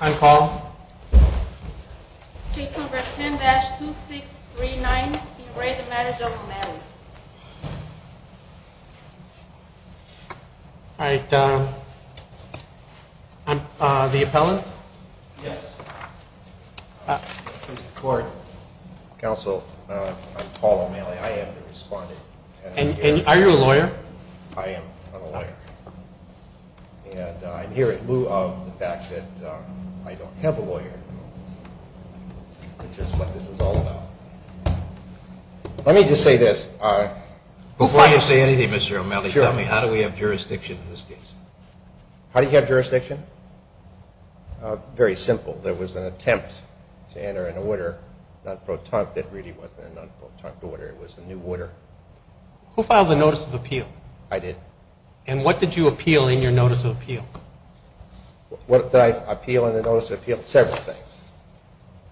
I'm Paul. Case number 10-2639. In re the Marriage of O'Malley. Alright, I'm the appellant. Yes. Council, I'm Paul O'Malley. I am the respondent. Are you a lawyer? I am a lawyer. And I'm here in lieu of the fact that I don't have a lawyer. Which is what this is all about. Let me just say this. Before you say anything, Mr. O'Malley, tell me how do we have jurisdiction in this case? How do you have jurisdiction? Very simple. There was an attempt to enter an order, non-protonic, that really wasn't a non-protonic order. It was a new order. Who filed the Notice of Appeal? I did. And what did you appeal in your Notice of Appeal? What did I appeal in the Notice of Appeal? Several things.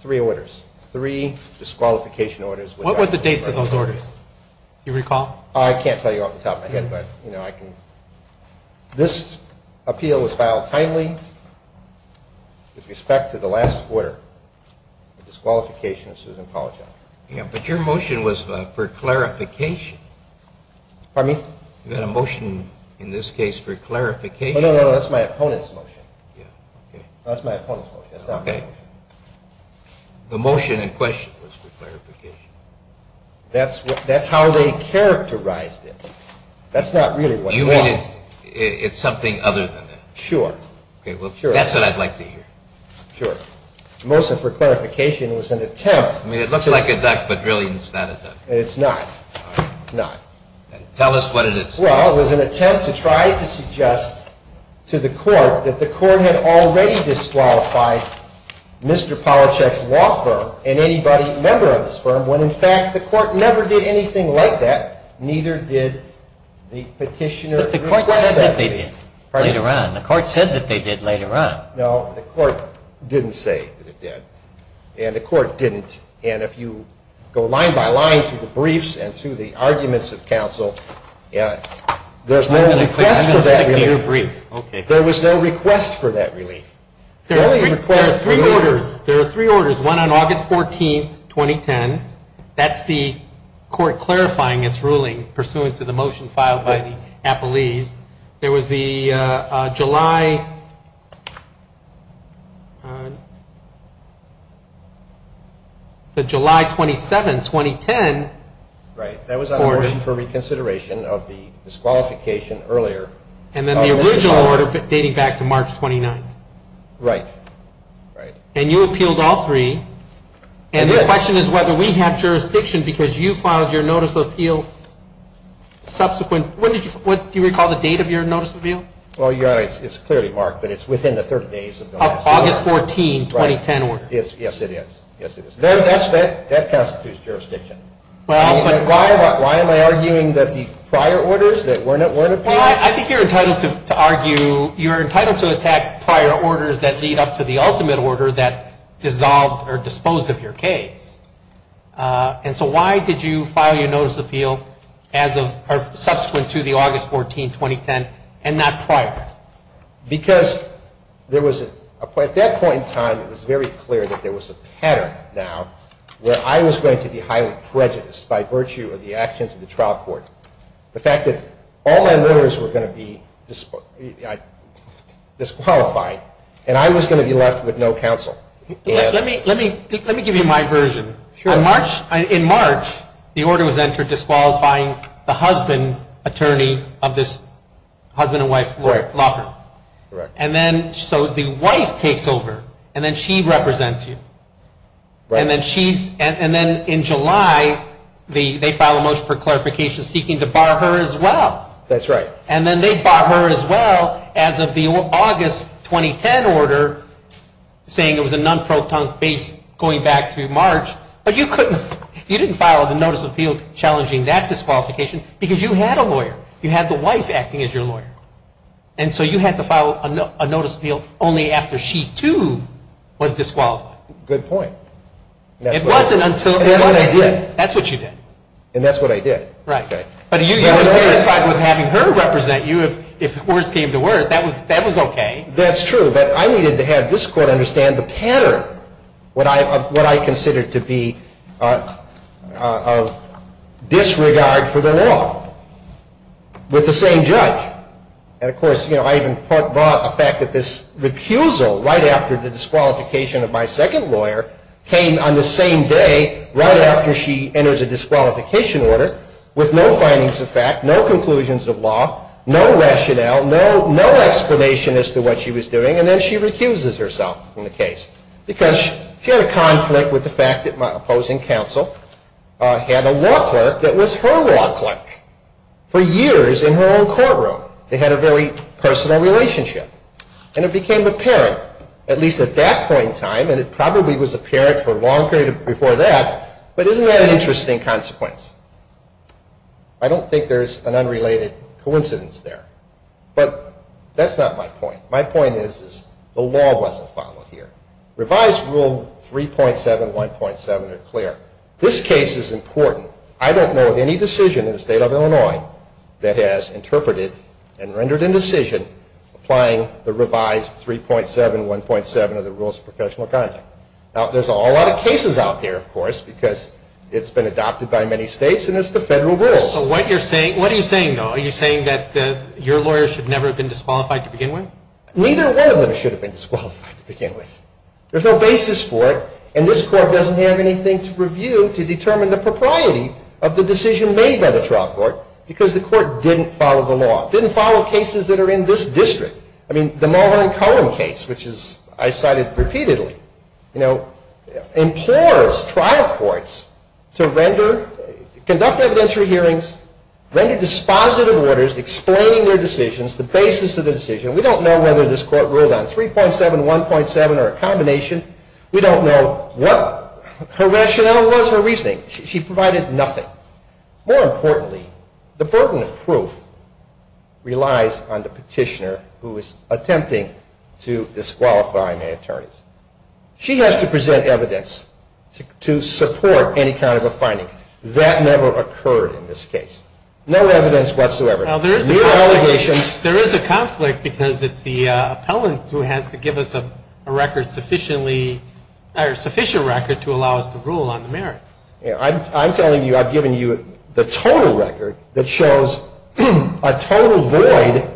Three orders. Three disqualification orders. What were the dates of those orders? Do you recall? I can't tell you off the top of my head, but, you know, I can... This appeal was filed timely with respect to the last order, the disqualification of Susan Paul John. Yeah, but your motion was for clarification. Pardon me? You had a motion in this case for clarification. No, no, no, that's my opponent's motion. Yeah, okay. That's my opponent's motion. That's not my motion. The motion in question was for clarification. That's how they characterized it. That's not really what it was. You mean it's something other than that? Sure. Okay, well, that's what I'd like to hear. Sure. The motion for clarification was an attempt to... I mean, it looks like a duck, but really it's not a duck. It's not. It's not. Tell us what it is. Well, it was an attempt to try to suggest to the court that the court had already disqualified Mr. Polachek's law firm and anybody a member of this firm when, in fact, the court never did anything like that, neither did the petitioner... But the court said that they did later on. Pardon me? The court said that they did later on. No, the court didn't say that it did, and the court didn't. And if you go line by line through the briefs and through the arguments of counsel, there's no request for that relief. I'm going to stick to your brief. Okay. There was no request for that relief. There are three orders. There are three orders, one on August 14, 2010. That's the court clarifying its ruling pursuant to the motion filed by the appellees. There was the July 27, 2010. Right. That was on a motion for reconsideration of the disqualification earlier. And then the original order dating back to March 29. Right. Right. And you appealed all three. And the question is whether we have jurisdiction because you filed your notice of appeal subsequent. Do you recall the date of your notice of appeal? Well, it's clearly marked, but it's within the 30 days of the last order. August 14, 2010 order. Yes, it is. Yes, it is. That constitutes jurisdiction. Why am I arguing that the prior orders that weren't appealed... Well, I think you're entitled to argue... You're entitled to attack prior orders that lead up to the ultimate order that dissolved or disposed of your case. And so why did you file your notice of appeal subsequent to the August 14, 2010 and not prior? Because at that point in time it was very clear that there was a pattern now where I was going to be highly prejudiced by virtue of the actions of the trial court. The fact that all my murderers were going to be disqualified and I was going to be left with no counsel. Let me give you my version. In March, the order was entered disqualifying the husband attorney of this husband and wife law firm. And then so the wife takes over and then she represents you. And then in July they file a motion for clarification seeking to bar her as well. That's right. And then they bar her as well as of the August 2010 order saying it was a non-proton based going back through March. But you didn't file a notice of appeal challenging that disqualification because you had a lawyer. You had the wife acting as your lawyer. And so you had to file a notice of appeal only after she too was disqualified. It wasn't until... And that's what I did. That's what you did. And that's what I did. Right. But you were satisfied with having her represent you if words came to words. That was okay. That's true. But I needed to have this court understand the pattern of what I considered to be disregard for the law with the same judge. And, of course, I even brought the fact that this recusal right after the disqualification of my second lawyer came on the same day right after she enters a disqualification order with no findings of fact, no conclusions of law, no rationale, no explanation as to what she was doing, and then she recuses herself from the case because she had a conflict with the fact that my opposing counsel had a law clerk that was her law clerk for years in her own courtroom. They had a very personal relationship. And it became apparent, at least at that point in time, and it probably was apparent for a long period before that, but isn't that an interesting consequence? I don't think there's an unrelated coincidence there. But that's not my point. My point is the law wasn't followed here. Revised Rule 3.7, 1.7 are clear. This case is important. I don't know of any decision in the state of Illinois that has interpreted and rendered indecision applying the revised 3.7, 1.7 of the Rules of Professional Conduct. Now, there's a whole lot of cases out here, of course, because it's been adopted by many states, and it's the federal rules. What are you saying, though? Are you saying that your lawyer should never have been disqualified to begin with? Neither one of them should have been disqualified to begin with. There's no basis for it, and this Court doesn't have anything to review to determine the propriety of the decision made by the trial court because the court didn't follow the law, didn't follow cases that are in this district. I mean, the Mulhern-Cohen case, which I cited repeatedly, you know, implores trial courts to conduct evidentiary hearings, render dispositive orders explaining their decisions, the basis of the decision. We don't know whether this court ruled on 3.7, 1.7, or a combination. We don't know what her rationale was for reasoning. She provided nothing. More importantly, the pertinent proof relies on the petitioner who is attempting to disqualify may attorneys. She has to present evidence to support any kind of a finding. That never occurred in this case. No evidence whatsoever. Now, there is a conflict because it's the appellant who has to give us a record sufficiently or sufficient record to allow us to rule on the merits. I'm telling you I've given you the total record that shows a total void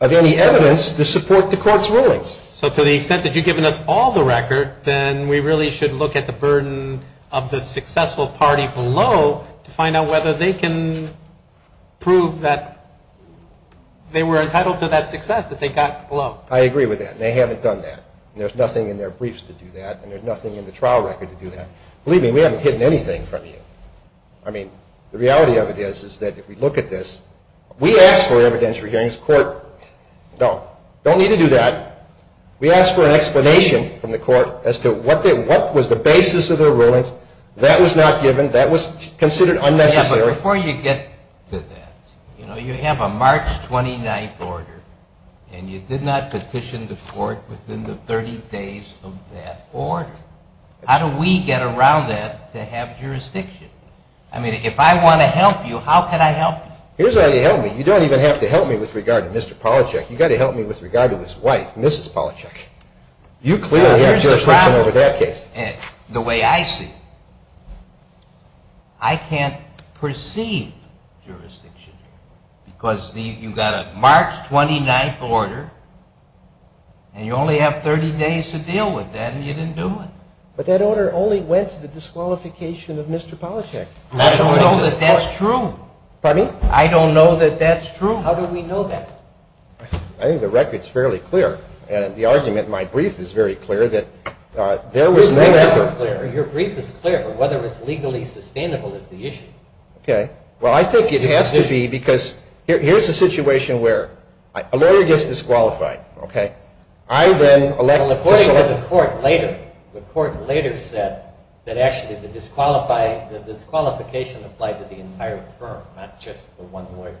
of any evidence to support the court's rulings. So to the extent that you've given us all the record, then we really should look at the burden of the successful party below to find out whether they can prove that they were entitled to that success that they got below. I agree with that. They haven't done that. There's nothing in their briefs to do that, and there's nothing in the trial record to do that. Believe me, we haven't hidden anything from you. I mean, the reality of it is that if we look at this, we ask for evidence for hearings. The court, no, don't need to do that. We ask for an explanation from the court as to what was the basis of their rulings. That was not given. That was considered unnecessary. Yeah, but before you get to that, you know, you have a March 29th order, and you did not petition the court within the 30 days of that order. How do we get around that to have jurisdiction? I mean, if I want to help you, how can I help you? Here's how you help me. You don't even have to help me with regard to Mr. Polachek. You've got to help me with regard to this wife, Mrs. Polachek. You clearly have jurisdiction over that case. The way I see it, I can't proceed jurisdiction because you've got a March 29th order, and you only have 30 days to deal with that, and you didn't do it. But that order only went to the disqualification of Mr. Polachek. I don't know that that's true. Pardon me? I don't know that that's true. How do we know that? I think the record's fairly clear, and the argument in my brief is very clear that there was no effort. Your brief is clear, but whether it's legally sustainable is the issue. Well, I think it has to be because here's a situation where a lawyer gets disqualified. I then elect to select. Well, according to the court later, the court later said that actually the disqualification applied to the entire firm, not just the one lawyer.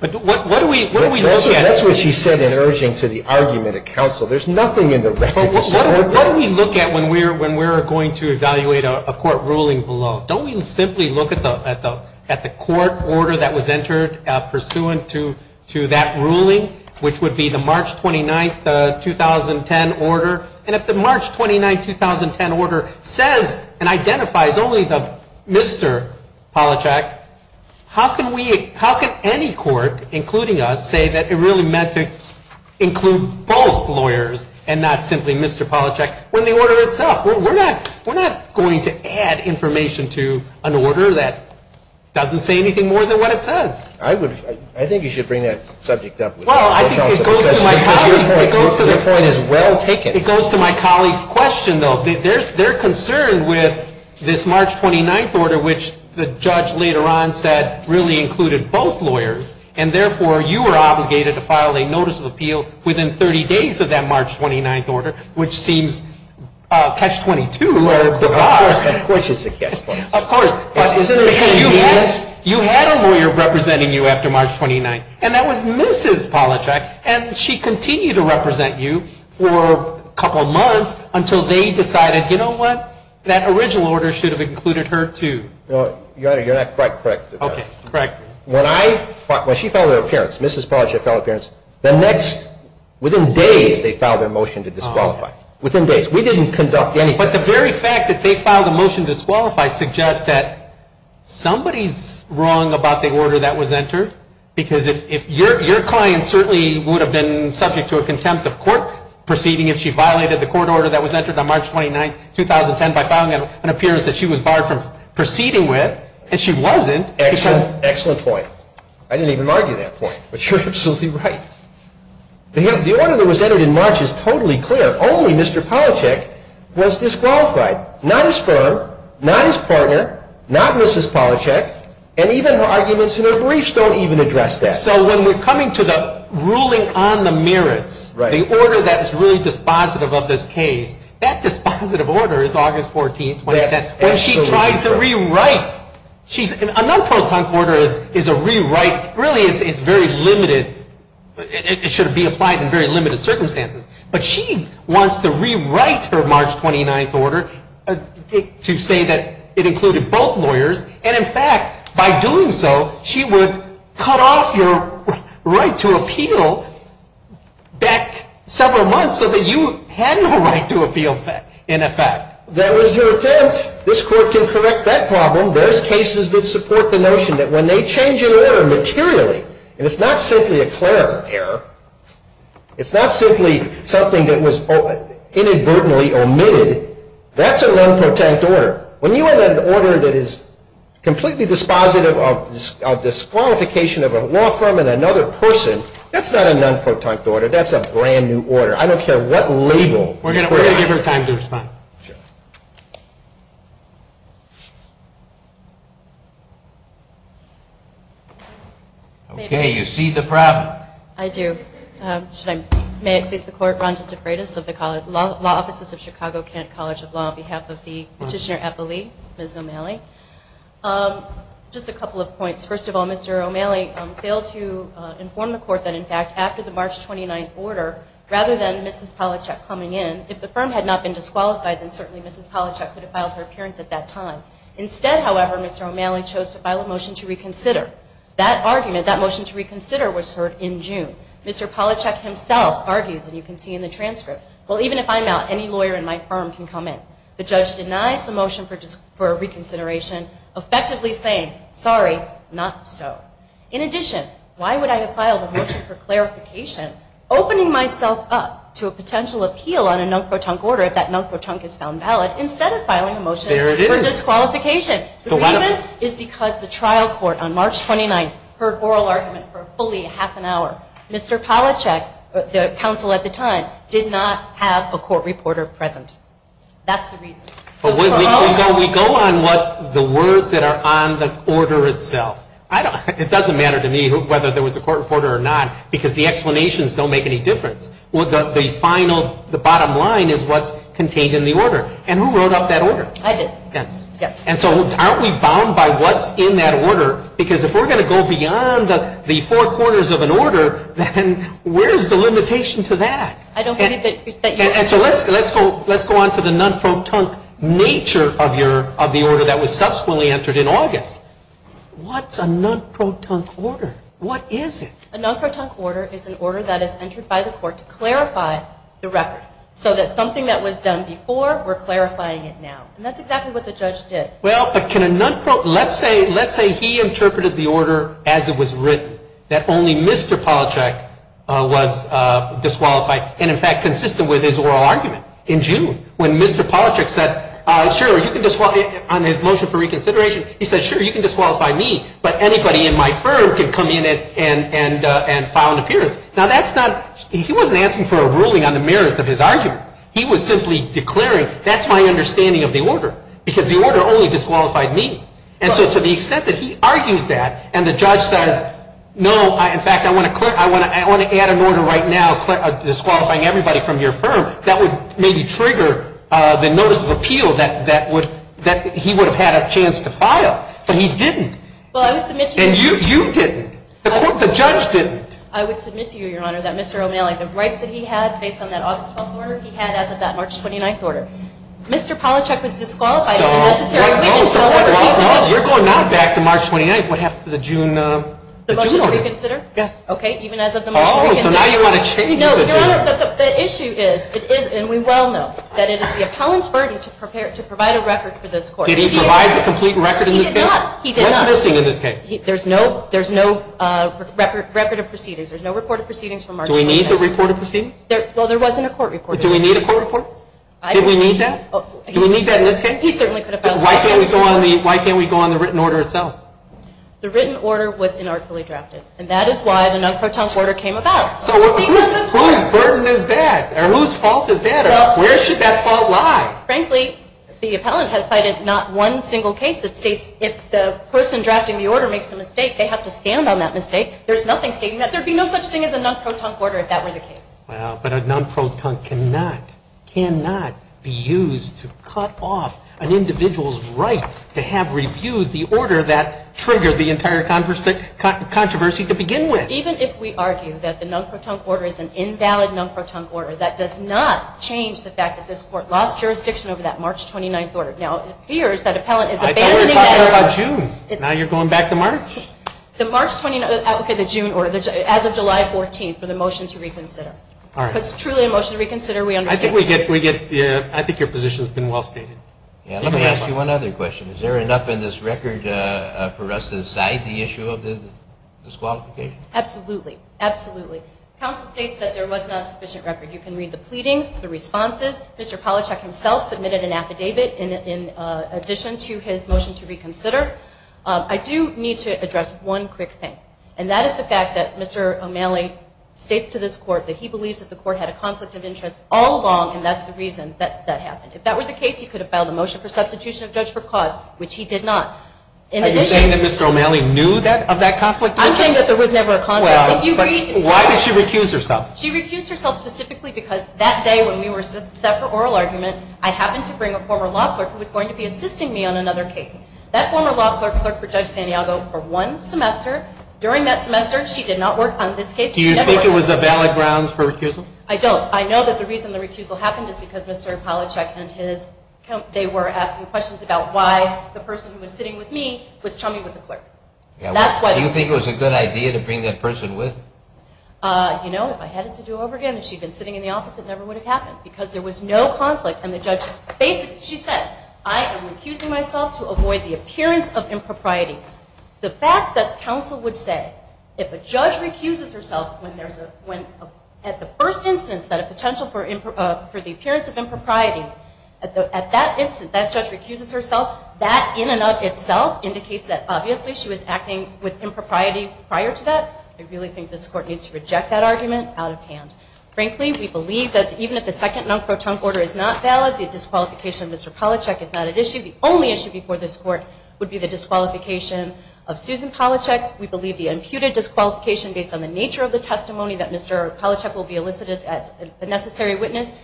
But what do we look at? That's what she said in urging to the argument at counsel. There's nothing in the record to support that. But what do we look at when we're going to evaluate a court ruling below? Don't we simply look at the court order that was entered pursuant to that ruling, which would be the March 29th, 2010 order? And if the March 29th, 2010 order says and identifies only Mr. Polachek, how can any court, including us, say that it really meant to include both lawyers and not simply Mr. Polachek when the order itself? We're not going to add information to an order that doesn't say anything more than what it says. I think you should bring that subject up. Well, I think it goes to my colleague's question, though. They're concerned with this March 29th order, which the judge later on said really included both lawyers, and therefore you were obligated to file a notice of appeal within 30 days of that March 29th order, which seems catch-22 or bizarre. Of course it's a catch-22. Of course. Because you had a lawyer representing you after March 29th, and that was Mrs. Polachek. And she continued to represent you for a couple months until they decided, you know what, that original order should have included her, too. Your Honor, you're not quite correct. Okay. Correct. When she filed her appearance, Mrs. Polachek filed her appearance, within days they filed their motion to disqualify. Within days. We didn't conduct anything. But the very fact that they filed a motion to disqualify suggests that somebody's wrong about the order that was entered. Because your client certainly would have been subject to a contempt of court proceeding if she violated the court order that was entered on March 29th, 2010, by filing an appearance that she was barred from proceeding with, and she wasn't. Excellent point. I didn't even argue that point. But you're absolutely right. The order that was entered in March is totally clear. Only Mr. Polachek was disqualified. Not his firm, not his partner, not Mrs. Polachek, and even her arguments in her briefs don't even address that. So when we're coming to the ruling on the merits, the order that is really dispositive of this case, that dispositive order is August 14th, 2010, when she tries to rewrite. A non-protonc order is a rewrite. Really, it's very limited. It should be applied in very limited circumstances. But she wants to rewrite her March 29th order to say that it included both lawyers, and in fact, by doing so, she would cut off your right to appeal back several months so that you had no right to appeal in effect. That was her attempt. This court can correct that problem. There's cases that support the notion that when they change an error materially, and it's not simply a clear error, it's not simply something that was inadvertently omitted, that's a non-protect order. When you have an order that is completely dispositive of disqualification of a law firm and another person, that's not a non-protect order. That's a brand-new order. I don't care what label. We're going to give her time to respond. Okay. I do. May it please the Court. My name is Rhonda DeFreitas of the Law Offices of Chicago-Kent College of Law, on behalf of the Petitioner at the League, Ms. O'Malley. Just a couple of points. First of all, Mr. O'Malley failed to inform the Court that, in fact, after the March 29th order, rather than Mrs. Polachek coming in, if the firm had not been disqualified, then certainly Mrs. Polachek could have filed her appearance at that time. Instead, however, Mr. O'Malley chose to file a motion to reconsider. That argument, that motion to reconsider, was heard in June. Mr. Polachek himself argues, and you can see in the transcript, well, even if I'm out, any lawyer in my firm can come in. The judge denies the motion for reconsideration, effectively saying, sorry, not so. In addition, why would I have filed a motion for clarification, opening myself up to a potential appeal on a non-protect order if that non-protect is found valid, instead of filing a motion for disqualification? The reason is because the trial court on March 29th heard oral argument for fully half an hour. Mr. Polachek, the counsel at the time, did not have a court reporter present. That's the reason. We go on what the words that are on the order itself. It doesn't matter to me whether there was a court reporter or not, because the explanations don't make any difference. The final, the bottom line is what's contained in the order. And who wrote up that order? I did. Yes. Yes. And so aren't we bound by what's in that order? Because if we're going to go beyond the four corners of an order, then where's the limitation to that? I don't believe that you're... And so let's go on to the non-protect nature of the order that was subsequently entered in August. What's a non-protect order? What is it? A non-protect order is an order that is entered by the court to clarify the record, so that something that was done before, we're clarifying it now. And that's exactly what the judge did. Well, but can a non-pro... Let's say he interpreted the order as it was written, that only Mr. Polachek was disqualified, and, in fact, consistent with his oral argument in June, when Mr. Polachek said, sure, you can disqualify... On his motion for reconsideration, he said, sure, you can disqualify me, but anybody in my firm can come in and file an appearance. Now, that's not... He wasn't asking for a ruling on the merits of his argument. He was simply declaring, that's my understanding of the order, because the order only disqualified me. And so to the extent that he argues that, and the judge says, no, in fact, I want to add an order right now disqualifying everybody from your firm, that would maybe trigger the notice of appeal that he would have had a chance to file. But he didn't. Well, I would submit to you... And you didn't. The judge didn't. I would submit to you, Your Honor, that Mr. O'Malley, the rights that he had based on that August 12th order, he had as of that March 29th order. Mr. Polachek was disqualified... So, you're going now back to March 29th, what happened to the June order? The motion to reconsider? Yes. Okay, even as of the motion to reconsider. Oh, so now you want to change... No, Your Honor, the issue is, and we well know, that it is the appellant's burden to provide a record for this court. Did he provide the complete record in this case? He did not. What's missing in this case? There's no record of proceedings. Do we need the report of proceedings? Well, there wasn't a court report. Do we need a court report? Did we need that? Do we need that in this case? He certainly could have filed a court report. Why can't we go on the written order itself? The written order was inarticulately drafted, and that is why the non-croton order came about. So, whose burden is that? Whose fault is that? Where should that fault lie? Frankly, the appellant has cited not one single case that states if the person drafting the order makes a mistake, they have to stand on that mistake. There's nothing stating that. There would be no such thing as a non-croton order if that were the case. Well, but a non-croton cannot be used to cut off an individual's right to have reviewed the order that triggered the entire controversy to begin with. Even if we argue that the non-croton order is an invalid non-croton order, that does not change the fact that this court lost jurisdiction over that March 29th order. Now, it appears that appellant is abandoning that order. I thought we were talking about June. Now you're going back to March. The March 29th applicant, the June order, as of July 14th for the motion to reconsider. All right. Because truly a motion to reconsider, we understand. I think your position has been well stated. Let me ask you one other question. Is there enough in this record for us to decide the issue of the disqualification? Absolutely. Absolutely. Counsel states that there was not a sufficient record. You can read the pleadings, the responses. Mr. Palachuk himself submitted an affidavit in addition to his motion to reconsider. I do need to address one quick thing, and that is the fact that Mr. O'Malley states to this court that he believes that the court had a conflict of interest all along, and that's the reason that happened. If that were the case, he could have filed a motion for substitution of judge for cause, which he did not. Are you saying that Mr. O'Malley knew of that conflict of interest? I'm saying that there was never a conflict of interest. Why did she recuse herself? She recused herself specifically because that day when we were set for oral argument, I happened to bring a former law clerk who was going to be assisting me on another case. That former law clerk clerked for Judge Santiago for one semester. During that semester, she did not work on this case. Do you think it was a valid grounds for recusal? I don't. I know that the reason the recusal happened is because Mr. Palachuk and his, they were asking questions about why the person who was sitting with me was chumming with the clerk. Do you think it was a good idea to bring that person with? You know, if I had it to do over again, if she had been sitting in the office, it never would have happened because there was no conflict, and the judge, she said, I am recusing myself to avoid the appearance of impropriety. The fact that counsel would say if a judge recuses herself when there's a, when at the first instance that a potential for the appearance of impropriety, at that instance, that judge recuses herself, that in and of itself indicates that obviously she was acting with impropriety prior to that. I really think this court needs to reject that argument out of hand. Frankly, we believe that even if the second non-croton order is not valid, the disqualification of Mr. Palachuk is not at issue. The only issue before this court would be the disqualification of Susan Palachuk. We believe the imputed disqualification based on the nature of the testimony that Mr. Palachuk will be elicited as a necessary witness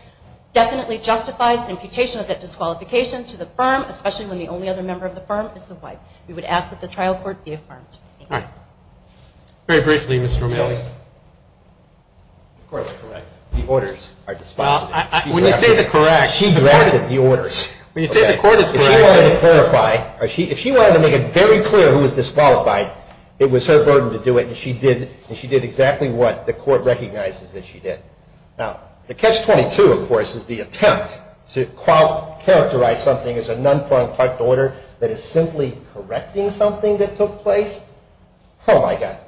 definitely justifies the imputation of that disqualification to the firm, especially when the only other member of the firm is the wife. We would ask that the trial court be affirmed. Thank you. Very briefly, Mr. O'Malley. The court is correct. The orders are disqualified. When you say the correct, the court is. She drafted the orders. When you say the court is correct. If she wanted to clarify, if she wanted to make it very clear who was disqualified, it was her burden to do it, and she did, and she did exactly what the court recognizes that she did. Now, the catch-22, of course, is the attempt to characterize something as a that is simply correcting something that took place. Oh, my God.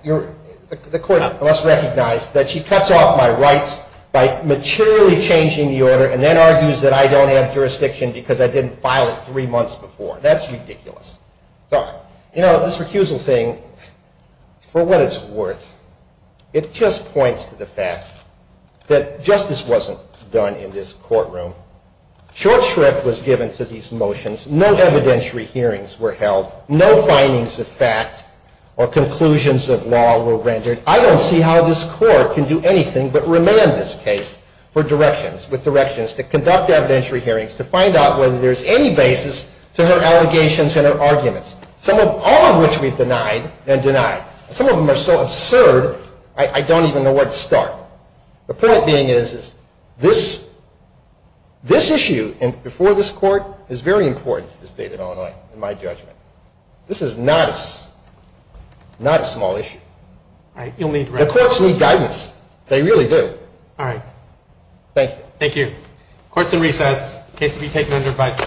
The court must recognize that she cuts off my rights by materially changing the order and then argues that I don't have jurisdiction because I didn't file it three months before. That's ridiculous. Sorry. You know, this recusal thing, for what it's worth, it just points to the fact that justice wasn't done in this courtroom. Short shrift was given to these motions. No evidentiary hearings were held. No findings of fact or conclusions of law were rendered. I don't see how this court can do anything but remand this case for directions, with directions to conduct evidentiary hearings, to find out whether there's any basis to her allegations and her arguments, all of which we've denied and denied. The point being is this issue before this court is very important to the state of Illinois, in my judgment. This is not a small issue. The courts need guidance. They really do. All right. Thank you. Thank you. Court is in recess. Case to be taken under advisory.